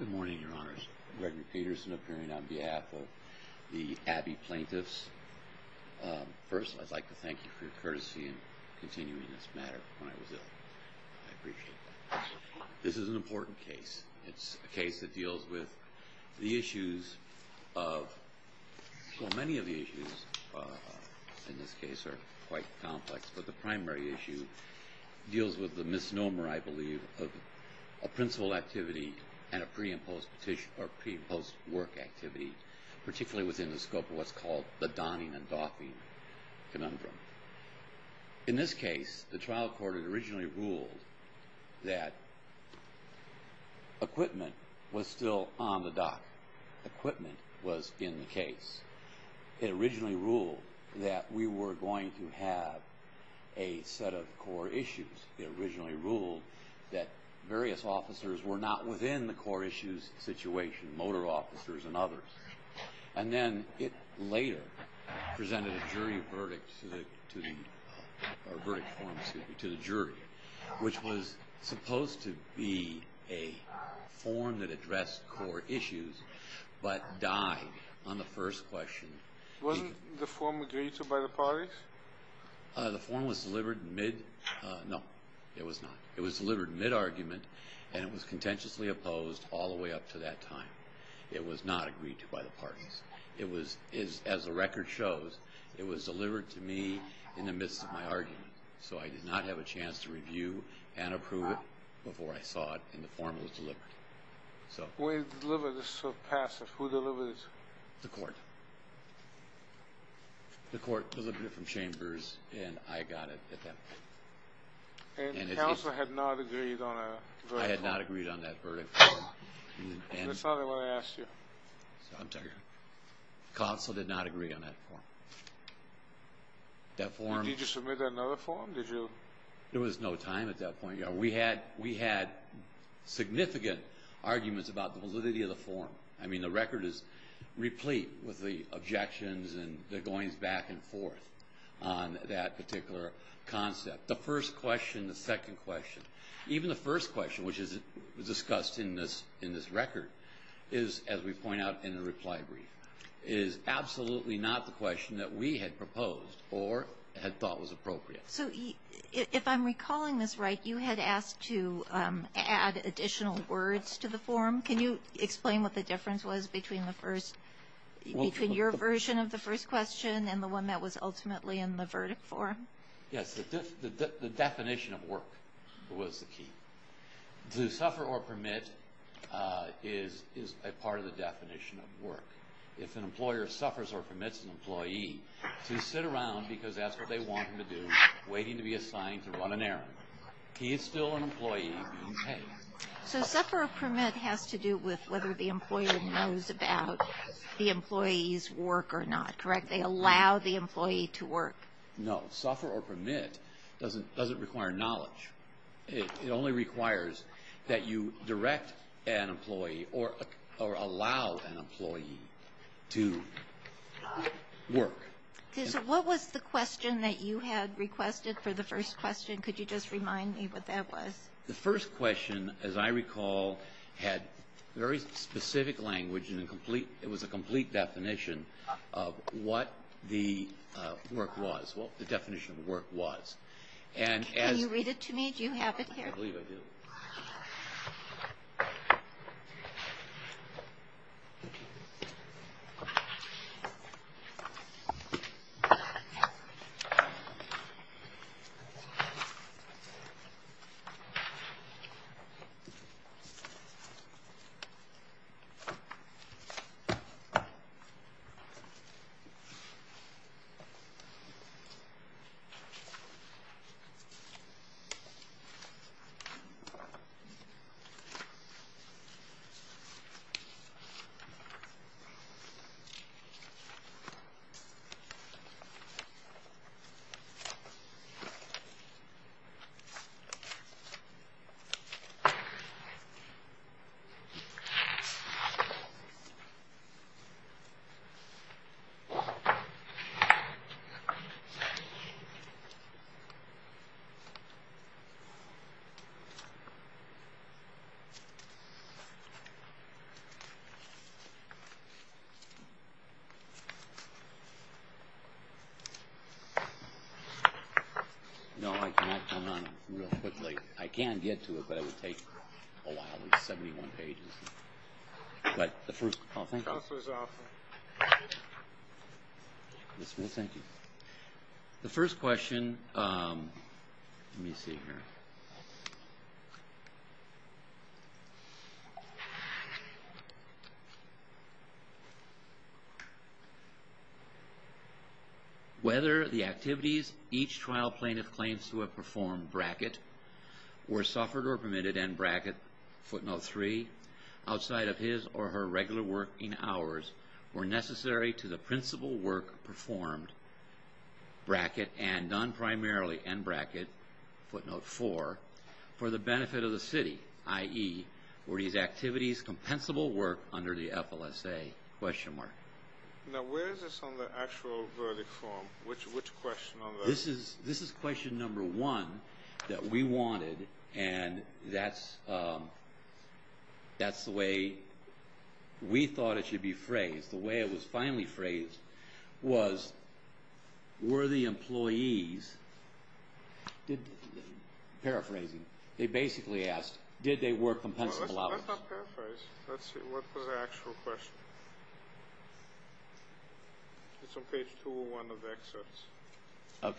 Good morning, Your Honors. Reverend Peterson appearing on behalf of the Abbe plaintiffs. First, I'd like to thank you for your courtesy in continuing this matter when I was ill. I appreciate that. This is an important case. It's a case that deals with the issues of, well, many of the issues in this case are quite complex. But the primary issue deals with the misnomer, I believe, a principal activity and a pre-imposed work activity, particularly within the scope of what's called the donning and doffing conundrum. In this case, the trial court had originally ruled that equipment was still on the dock. Equipment was in the case. It originally ruled that we were going to have a set of core issues. It originally ruled that various officers were not within the core issues situation, motor officers and others. And then it later presented a jury verdict to the jury, which was supposed to be a form that addressed core issues, but died on the first question. Wasn't the form agreed to by the parties? The form was delivered mid-no, it was not. It was delivered mid-argument, and it was contentiously opposed all the way up to that time. It was not agreed to by the parties. As the record shows, it was delivered to me in the midst of my argument. So I did not have a chance to review and approve it before I saw it, and the form was delivered. The way it was delivered is so passive. Who delivered it? The court. The court delivered it from Chambers, and I got it at that point. And the counsel had not agreed on a verdict? I had not agreed on that verdict. That's not what I asked you. Counsel did not agree on that form. Did you submit another form? There was no time at that point. We had significant arguments about the validity of the form. I mean, the record is replete with the objections and the goings back and forth on that particular concept. The first question, the second question, even the first question, which is discussed in this record, is, as we point out in the reply brief, is absolutely not the question that we had proposed or had thought was appropriate. So if I'm recalling this right, you had asked to add additional words to the form. Can you explain what the difference was between your version of the first question and the one that was ultimately in the verdict form? Yes, the definition of work was the key. To suffer or permit is a part of the definition of work. If an employer suffers or permits an employee to sit around because that's what they want him to do, waiting to be assigned to run an errand, he is still an employee being paid. So suffer or permit has to do with whether the employer knows about the employee's work or not, correct? They allow the employee to work. No, suffer or permit doesn't require knowledge. It only requires that you direct an employee or allow an employee to work. What was the question that you had requested for the first question? Could you just remind me what that was? The first question, as I recall, had very specific language and it was a complete definition of what the work was, what the definition of work was. Can you read it to me? Do you have it here? I believe I do. No, I cannot turn it on real quickly. I can get to it, but it would take a while. It's 71 pages. The first question, let me see here. Whether the activities each trial plaintiff claims to have performed, bracket, were suffered or permitted, end bracket, footnote three, outside of his or her regular working hours were necessary to the principal work performed, bracket, and done primarily, end bracket, footnote four, for the benefit of the city, i.e., were these activities compensable work under the FLSA, question mark. Now, where is this on the actual verdict form? Which question on that? This is question number one that we wanted, and that's the way we thought it should be phrased. The way it was finally phrased was, were the employees, paraphrasing, they basically asked, did they work compensable hours? Let's not paraphrase. Let's see, what was the actual question? It's on page 201 of the excerpts. OK.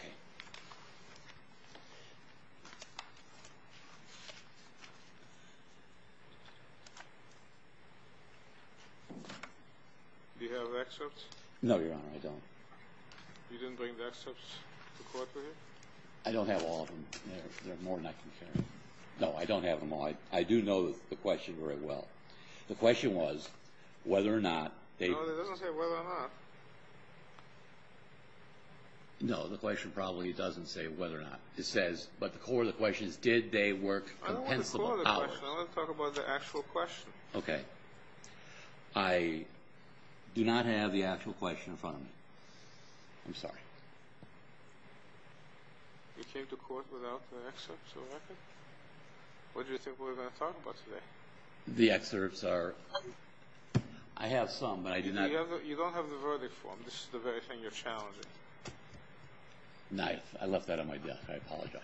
Do you have the excerpts? No, Your Honor, I don't. You didn't bring the excerpts to court with you? I don't have all of them. There are more than I can carry. No, I don't have them all. I do know the question very well. The question was whether or not they were. No, it doesn't say whether or not. No, the question probably doesn't say whether or not. It says, but the core of the question is, did they work compensable hours? I don't want the core of the question. I want to talk about the actual question. OK. I do not have the actual question in front of me. I'm sorry. You came to court without the excerpts, Your Honor? What do you think we're going to talk about today? The excerpts are, I have some, but I do not have them. You don't have the verdict form. This is the very thing you're challenging. Knife. I left that on my desk. I apologize.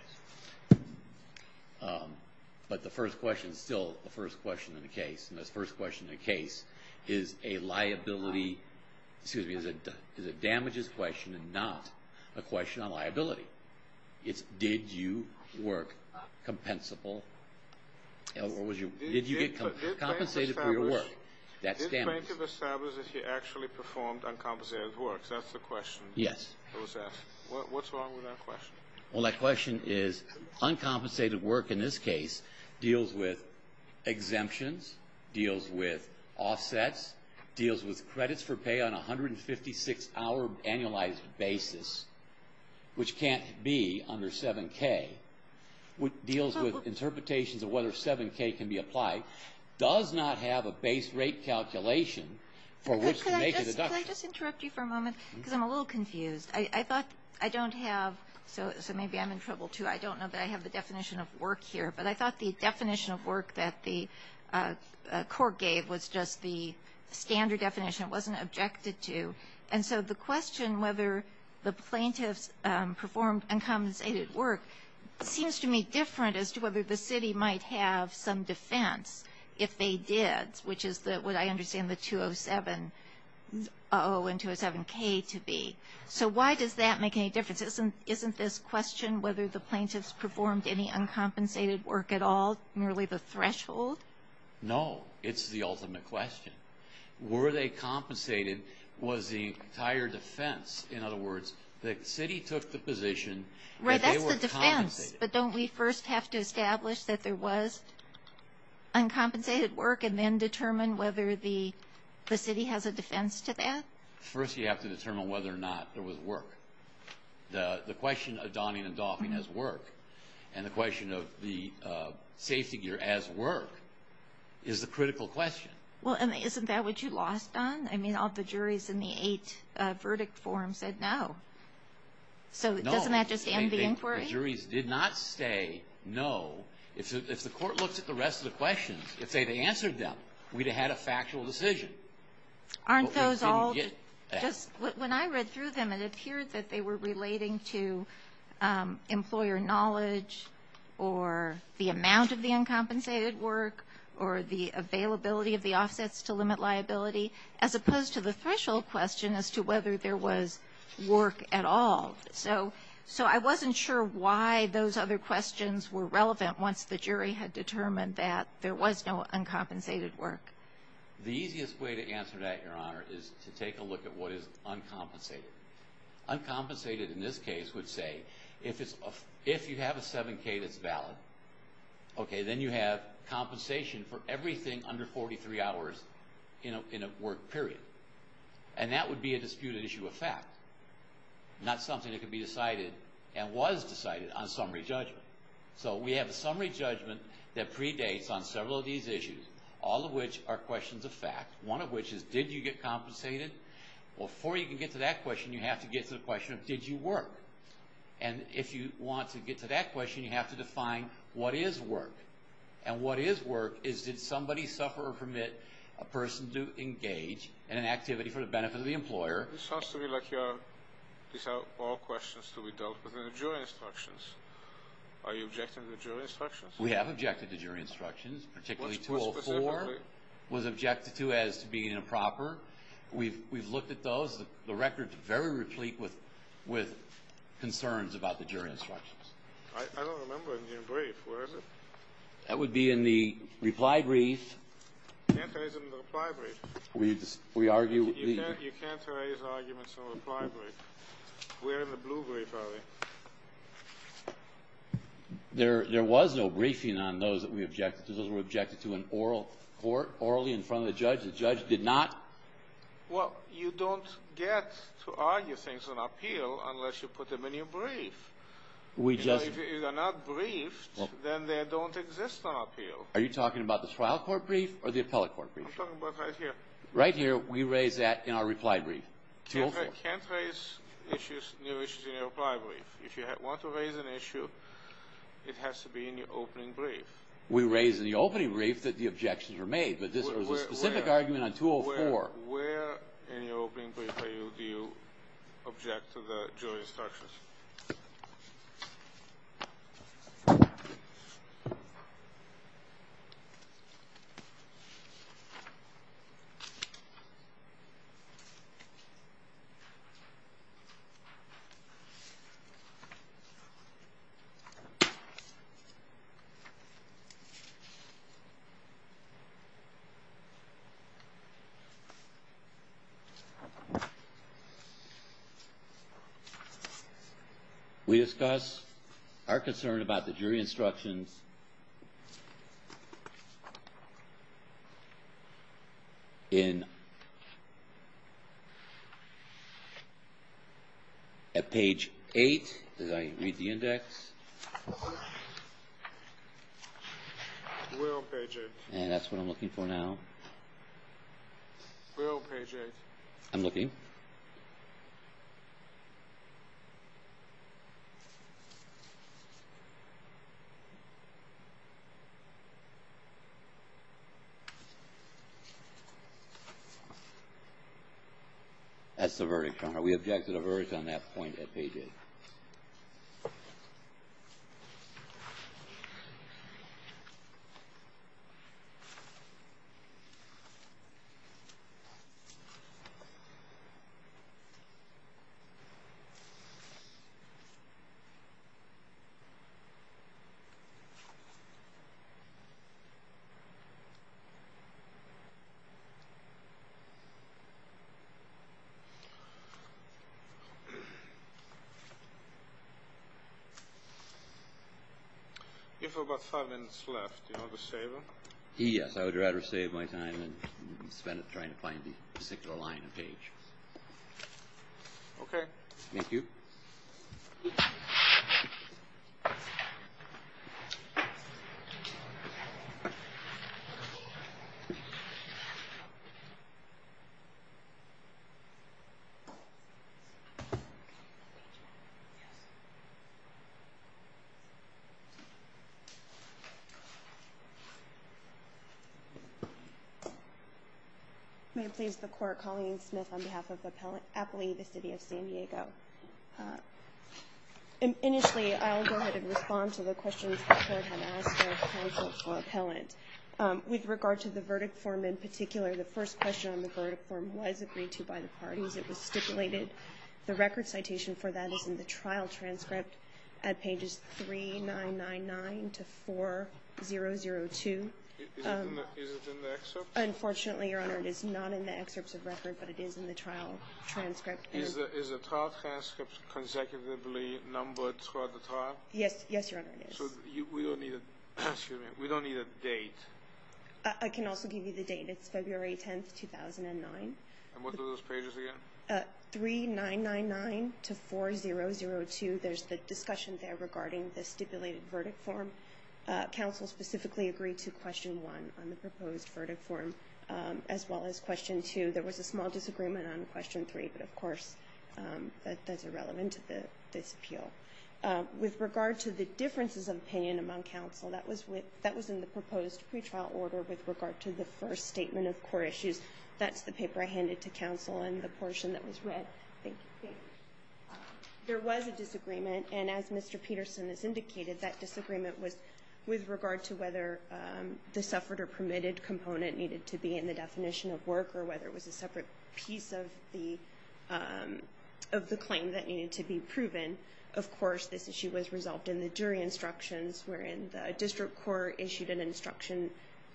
But the first question is still the first question in the case. And this first question in the case is a liability, excuse me, is a damages question and not a question on liability. It's, did you work compensable? Or was your, did you get compensated for your work? That's damages. Did Bancroft establish that he actually performed uncompensated work? That's the question that was asked. What's wrong with that question? Well, that question is uncompensated work, in this case, deals with exemptions, deals with offsets, deals with credits for pay on a 156-hour annualized basis, which can't be under 7k, deals with interpretations of whether 7k can be applied, does not have a base rate calculation for which to make a deduction. Could I just interrupt you for a moment? Because I'm a little confused. I thought I don't have, so maybe I'm in trouble, too. I don't know that I have the definition of work here. But I thought the definition of work that the court gave was just the standard definition. It wasn't objected to. And so the question whether the plaintiffs performed uncompensated work seems to me different as to whether the city might have some defense if they did, which is what I understand the 207-0 and 207-k to be. So why does that make any difference? Isn't this question whether the plaintiffs performed any uncompensated work at all merely the threshold? No. It's the ultimate question. Were they compensated? Was the entire defense, in other words, the city took the position that they were compensated? Right, that's the defense. But don't we first have to establish that there was uncompensated work, and then determine whether the city has a defense to that? First, you have to determine whether or not there was work. The question of donning and doffing as work, and the question of the safety gear as work, is the critical question. Well, and isn't that what you lost on? I mean, all the juries in the eight verdict forum said no. So doesn't that just end the inquiry? The juries did not say no. If the court looks at the rest of the questions, if they had answered them, we'd have had a factual decision. Aren't those all just, when I read through them, it appeared that they were relating to employer knowledge, or the amount of the uncompensated work, or the availability of the offsets to limit liability, as opposed to the threshold question as to whether there was work at all. So I wasn't sure why those other questions were relevant once the jury had determined that there was no uncompensated work. The easiest way to answer that, Your Honor, is to take a look at what is uncompensated. Uncompensated, in this case, would say, if you have a 7k that's valid, okay, then you have compensation for everything under 43 hours in a work period. And that would be a disputed issue of fact, not something that could be decided, and was decided on summary judgment. So we have a summary judgment that predates on several of these issues, all of which are questions of fact, one of which is, did you get compensated? Before you can get to that question, you have to get to the question of, did you work? And if you want to get to that question, you have to define, what is work? And what is work is, did somebody suffer or permit a person to engage in an activity for the benefit of the employer? It sounds to me like these are all questions to be dealt with in the jury instructions. Are you objecting to jury instructions? We have objected to jury instructions, particularly 204, was objected to as being improper. We've looked at those, the record's very replete with concerns about the jury instructions. I don't remember in your brief, where is it? That would be in the reply brief. You can't raise it in the reply brief. We argue. You can't raise arguments in the reply brief. Where in the blue brief are they? There was no briefing on those that we objected to. Those were objected to in oral court, orally in front of the judge. The judge did not... Well, you don't get to argue things on appeal unless you put them in your brief. We just... If they're not briefed, then they don't exist on appeal. Are you talking about the trial court brief or the appellate court brief? I'm talking about right here. Right here, we raise that in our reply brief. I can't raise issues, new issues in your reply brief. If you want to raise an issue, it has to be in your opening brief. We raise in the opening brief that the objections were made, but this was a specific argument on 204. Where in your opening brief are you, do you object to the jury instructions? Okay. We discuss our concern about the jury instructions in at page eight, as I read the index. We're on page eight. And that's what I'm looking for now. We're on page eight. I'm looking. Okay. That's the verdict. We object to the verdict on that point at page eight. Okay. If we've got five minutes left, do you want to save them? Yes, I would rather save my time than spend it trying to find the particular line of page. Okay. Thank you. Colleen Smith on behalf of the appellate appellee, the city of San Diego. And initially I'll go ahead and respond to the questions that have asked for appellant. With regard to the verdict form in particular, the first question on the verdict form was agreed to by the parties. It was stipulated. The record citation for that is in the trial transcript at pages three, nine, nine, nine to four, zero, zero, two. Unfortunately, your honor, it is not in the excerpts of record, but it is in the trial transcript. Is the trial transcript consecutively numbered throughout the trial? Yes, your honor, it is. So we don't need a date. I can also give you the date. It's February 10th, 2009. And what are those pages again? Three, nine, nine, nine to four, zero, zero, two. There's the discussion there regarding the stipulated verdict form. Council specifically agreed to question one on the proposed verdict form, as well as question two. There was a small disagreement on question three, but of course, that's irrelevant to this appeal. With regard to the differences of opinion among counsel, that was in the proposed pretrial order with regard to the first statement of core issues. That's the paper I handed to counsel in the portion that was read. Thank you. There was a disagreement, and as Mr. Peterson has indicated, that disagreement was with regard to whether the suffered or permitted component needed to be in the definition of work, or whether it was a separate piece of the claim that needed to be proven. Of course, this issue was resolved in the jury instructions, wherein the district court issued an instruction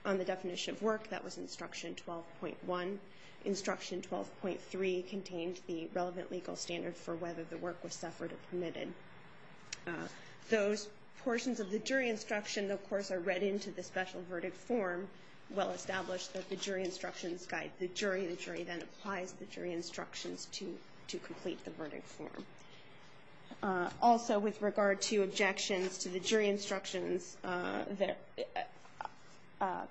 on the definition of work. That was instruction 12.1. Instruction 12.3 contains the relevant legal standard for whether the work was suffered or permitted. Those portions of the jury instruction, of course, are read into the special verdict form, well established that the jury instructions guide the jury. The jury then applies the jury instructions to complete the verdict form. Also, with regard to objections to the jury instructions,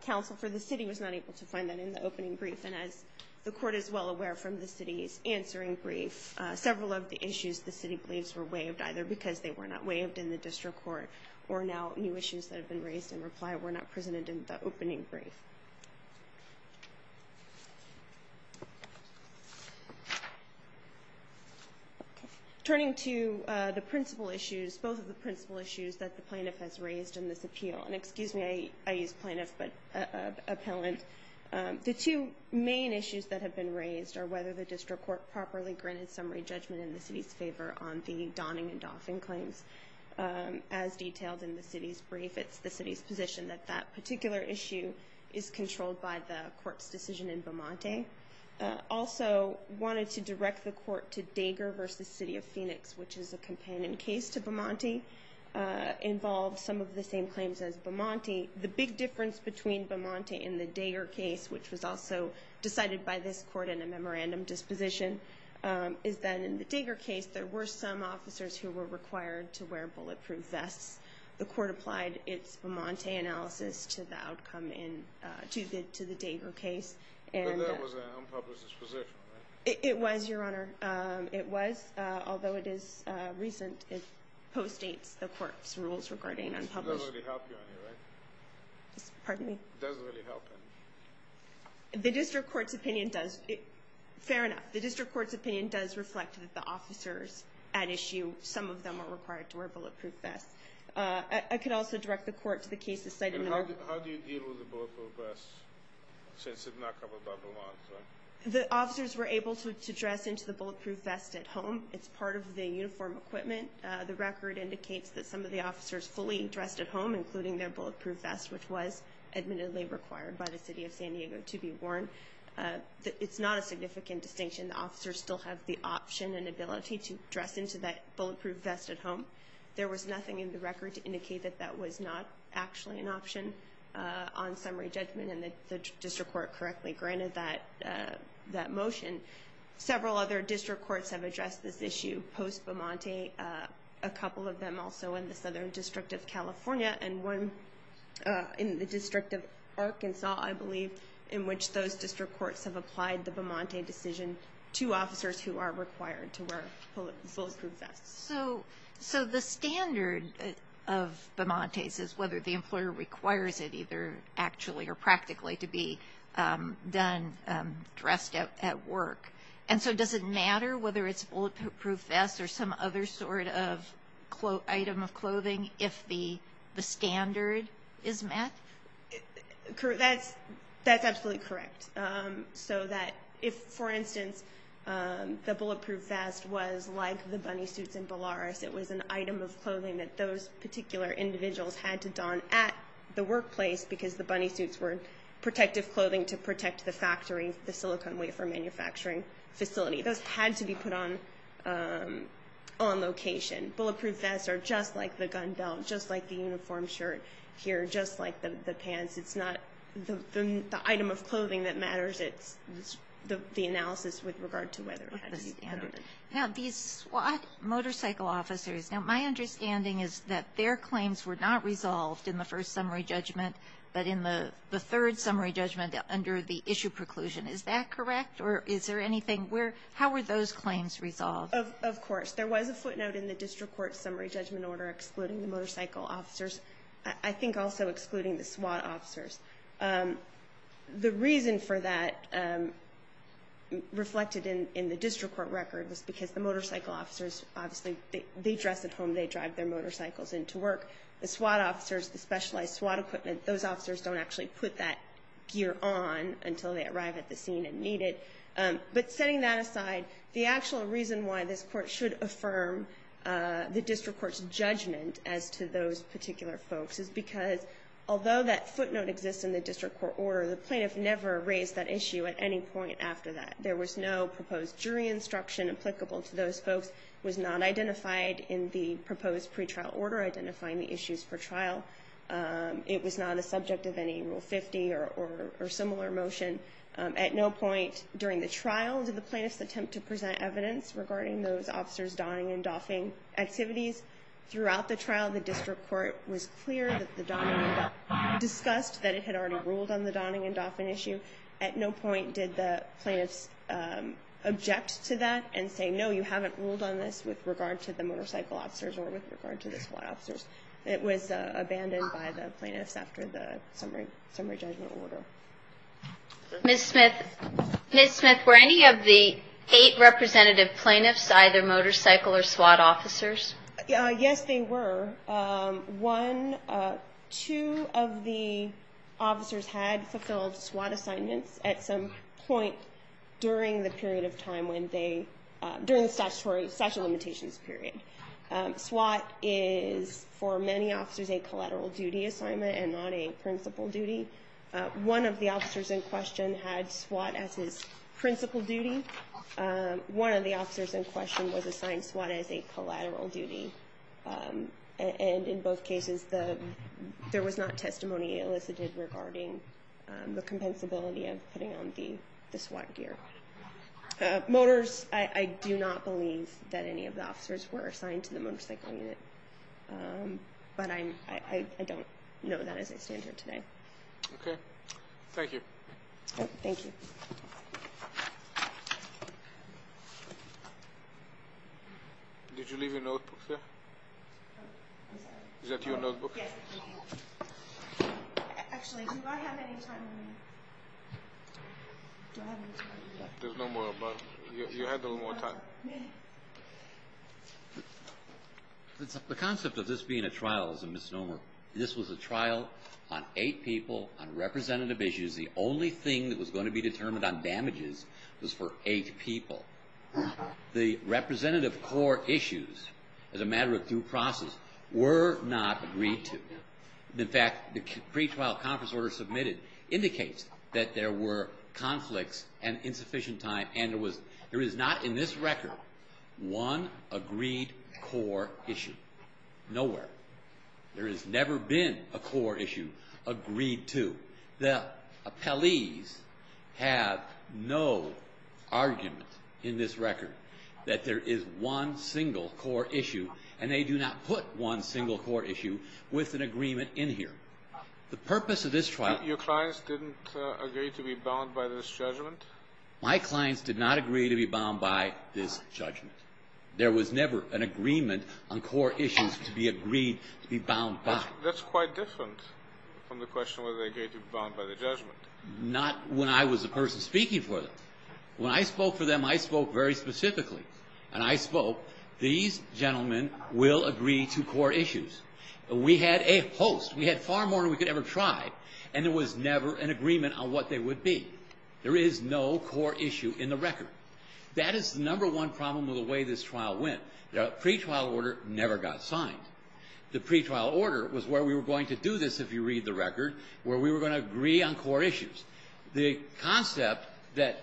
counsel for the city was not able to find that in the opening brief, and as the court is well aware from the city's answering brief, several of the issues the city believes were waived, either because they were not waived in the district court, or now new issues that have been raised in reply were not presented in the opening brief. Turning to the principal issues, both of the principal issues that the plaintiff has raised in this appeal, and excuse me, I use plaintiff, but appellant. The two main issues that have been raised are whether the district court properly granted summary judgment in the city's favor on the Donning and Dauphin claims, as detailed in the city's brief. It's the city's position that that particular issue is controlled by the court's decision in Bomonte. Also, wanted to direct the court to Dager versus City of Phoenix, which is a companion case to Bomonte, involved some of the same claims as Bomonte. The big difference between Bomonte and the Dager case, which was also decided by this court in a memorandum disposition, is that in the Dager case, there were some officers who were required to wear bulletproof vests. The court applied its Bomonte analysis to the outcome in, to the Dager case. And- But that was an unpublished disposition, right? It was, your honor. It was, although it is recent, it postdates the court's rules regarding unpublished- It doesn't really help you on here, right? Pardon me? It doesn't really help him. The district court's opinion does, fair enough, the district court's opinion does reflect that the officers at issue, some of them were required to wear bulletproof vests. I could also direct the court to the case that's cited in the memo- How do you deal with the bulletproof vests since it's not covered by the law? The officers were able to dress into the bulletproof vest at home. It's part of the uniform equipment. The record indicates that some of the officers fully dressed at home, including their bulletproof vest, which was admittedly required by the city of San Diego to be worn. It's not a significant distinction. The officers still have the option and ability to dress into that bulletproof vest at home. There was nothing in the record to indicate that that was not actually an option on summary judgment and that the district court correctly granted that motion. Several other district courts have addressed this issue post-Bemonte, a couple of them also in the Southern District of California and one in the District of Arkansas, I believe, in which those district courts have applied the Bemonte decision to officers who are required to wear bulletproof vests. So the standard of Bemontes is whether the employer requires it either actually or practically to be done, dressed at work. And so does it matter whether it's a bulletproof vest or some other sort of item of clothing if the standard is met? That's absolutely correct. So that if, for instance, the bulletproof vest was like the bunny suits in Belarus, it was an item of clothing that those particular individuals had to don at the workplace because the bunny suits were protective clothing to protect the factory, the silicon wafer manufacturing facility. Those had to be put on location. Bulletproof vests are just like the gun belt, just like the uniform shirt here, just like the pants. It's not the item of clothing that matters. It's the analysis with regard to whether it had to be covered. Now these SWAT motorcycle officers, now my understanding is that their claims were not resolved in the first summary judgment, but in the third summary judgment under the issue preclusion. Is that correct or is there anything where, how were those claims resolved? Of course. There was a footnote in the district court summary judgment order excluding the motorcycle officers. I think also excluding the SWAT officers. The reason for that reflected in the district court record was because the motorcycle officers, obviously they dress at home, they drive their motorcycles into work. The SWAT officers, the specialized SWAT equipment, those officers don't actually put that gear on until they arrive at the scene and need it. But setting that aside, the actual reason why this court should affirm the district court's judgment as to those particular folks is because although that footnote exists in the district court order, the plaintiff never raised that issue at any point after that. There was no proposed jury instruction applicable to those folks. It was not identified in the proposed pretrial order identifying the issues for trial. It was not a subject of any Rule 50 or similar motion. At no point during the trial did the plaintiffs attempt to present evidence regarding those officers donning and doffing activities. Throughout the trial, the district court was clear that the donning and doffing, discussed that it had already ruled on the donning and doffing issue. At no point did the plaintiffs object to that and say, no, you haven't ruled on this with regard to the motorcycle officers or with regard to the SWAT officers. It was abandoned by the plaintiffs after the summary judgment order. Ms. Smith, were any of the eight representative plaintiffs, either motorcycle or SWAT officers? Yes, they were. One, two of the officers had fulfilled SWAT assignments at some point during the period of time when they, during the statutory limitations period. SWAT is, for many officers, a collateral duty assignment and not a principal duty. One of the officers in question had SWAT as his principal duty. One of the officers in question was assigned SWAT as a collateral duty. And in both cases, there was not testimony elicited regarding the compensability of putting on the SWAT gear. Motors, I do not believe that any of the officers were assigned to the motorcycle unit, but I don't know that as I stand here today. Okay, thank you. Thank you. Thank you. Did you leave your notebook there? Is that your notebook? Yes. Actually, do I have any time remaining? Do I have any time? There's no more, but you had a little more time. The concept of this being a trial is a misnomer. This was a trial on eight people on representative issues. The only thing that was going to be determined on damages was for eight people. The representative core issues, as a matter of due process, were not agreed to. In fact, the pre-trial conference order submitted indicates that there were conflicts and insufficient time, and there is not in this record one agreed core issue. Nowhere. There has never been a core issue agreed to. The appellees have no argument in this record that there is one single core issue, and they do not put one single core issue with an agreement in here. The purpose of this trial- Your clients didn't agree to be bound by this judgment? My clients did not agree to be bound by this judgment. There was never an agreement on core issues to be agreed to be bound by. That's quite different from the question whether they agreed to be bound by the judgment. Not when I was the person speaking for them. When I spoke for them, I spoke very specifically, and I spoke, these gentlemen will agree to core issues. We had a host. We had far more than we could ever try, and there was never an agreement on what they would be. There is no core issue in the record. That is the number one problem with the way this trial went. Pre-trial order never got signed. The pre-trial order was where we were going to do this, if you read the record, where we were going to agree on core issues. The concept, that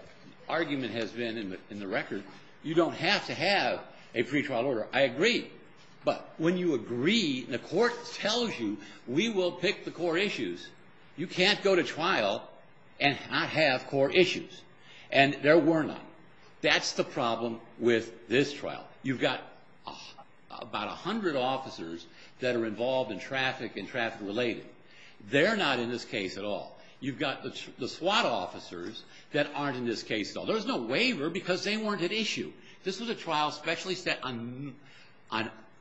argument has been in the record, you don't have to have a pre-trial order. I agree. But when you agree, and the court tells you, we will pick the core issues, you can't go to trial and not have core issues. And there were none. That's the problem with this trial. You've got about 100 officers that are involved in traffic and traffic related. They're not in this case at all. You've got the SWAT officers that aren't in this case at all. There was no waiver because they weren't at issue. This was a trial specially set on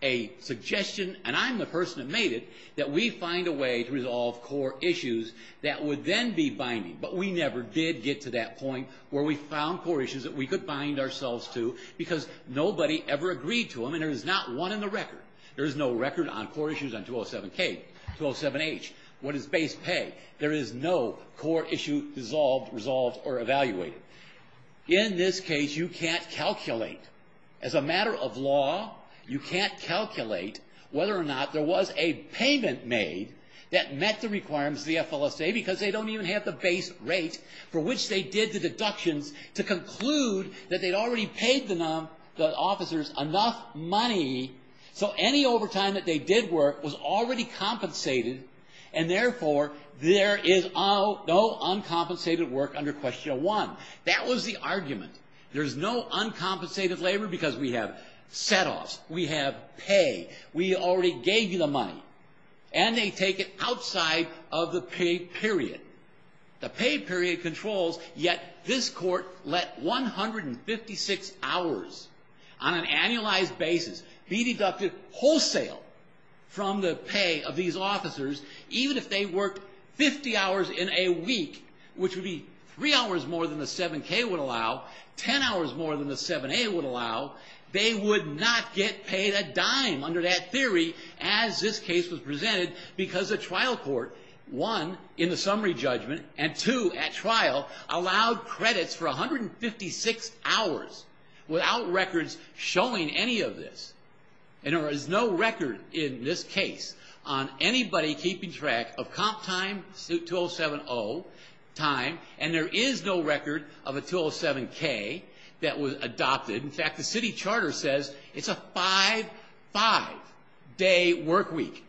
a suggestion, and I'm the person that made it, that we find a way to resolve core issues that would then be binding. But we never did get to that point where we found core issues that we could bind ourselves to because nobody ever agreed to them, and there is not one in the record. There is no record on core issues on 207-K, 207-H. What is base pay? There is no core issue resolved or evaluated. In this case, you can't calculate. As a matter of law, you can't calculate whether or not there was a payment made that met the requirements of the FLSA because they don't even have the base rate for which they did the deductions to conclude that they'd already paid the officers enough money so any overtime that they did work was already compensated, and therefore, there is no uncompensated work under question one. That was the argument. There's no uncompensated labor because we have setoffs, we have pay, we already gave you the money, and they take it outside of the pay period. The pay period controls, yet this court let 156 hours on an annualized basis be deducted wholesale from the pay of these officers even if they worked 50 hours in a week, which would be three hours more than the 7-K would allow, 10 hours more than the 7-A would allow. They would not get paid a dime under that theory as this case was presented because the trial court, one, in the summary judgment, and two, at trial, allowed credits for 156 hours without records showing any of this, and there is no record in this case on anybody keeping track of comp time, suit 207-0 time, and there is no record of a 207-K that was adopted. In fact, the city charter says it's a five, five-day work week.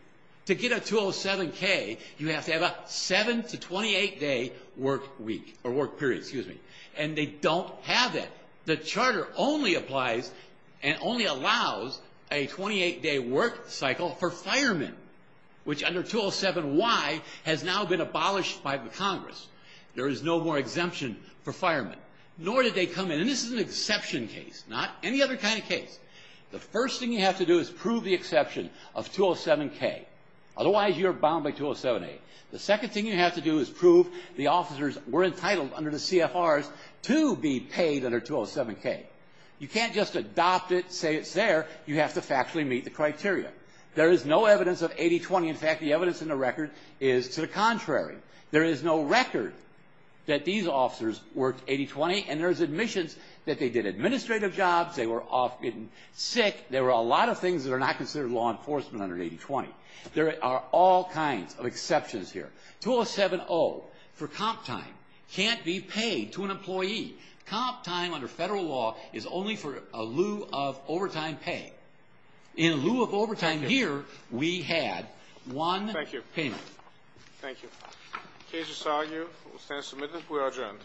To get a 207-K, you have to have a seven to 28-day work week, or work period, excuse me, and they don't have that. The charter only applies and only allows a 28-day work cycle for firemen, which under 207-Y has now been abolished by the Congress. There is no more exemption for firemen, nor did they come in, and this is an exception case, not any other kind of case. The first thing you have to do is prove the exception of 207-K. Otherwise, you're bound by 207-A. The second thing you have to do is prove the officers were entitled under the CFRs to be paid under 207-K. You can't just adopt it, say it's there. You have to factually meet the criteria. There is no evidence of 80-20. In fact, the evidence in the record is to the contrary. There is no record that these officers worked 80-20, and there's admissions that they did administrative jobs, they were off getting sick. There were a lot of things that are not considered law enforcement under 80-20. There are all kinds of exceptions here. 207-O, for comp time, can't be paid to an employee. Comp time under federal law is only for a lieu of overtime pay. In lieu of overtime here, we had one payment. Thank you. Case is argued, will stand submitted. We are adjourned.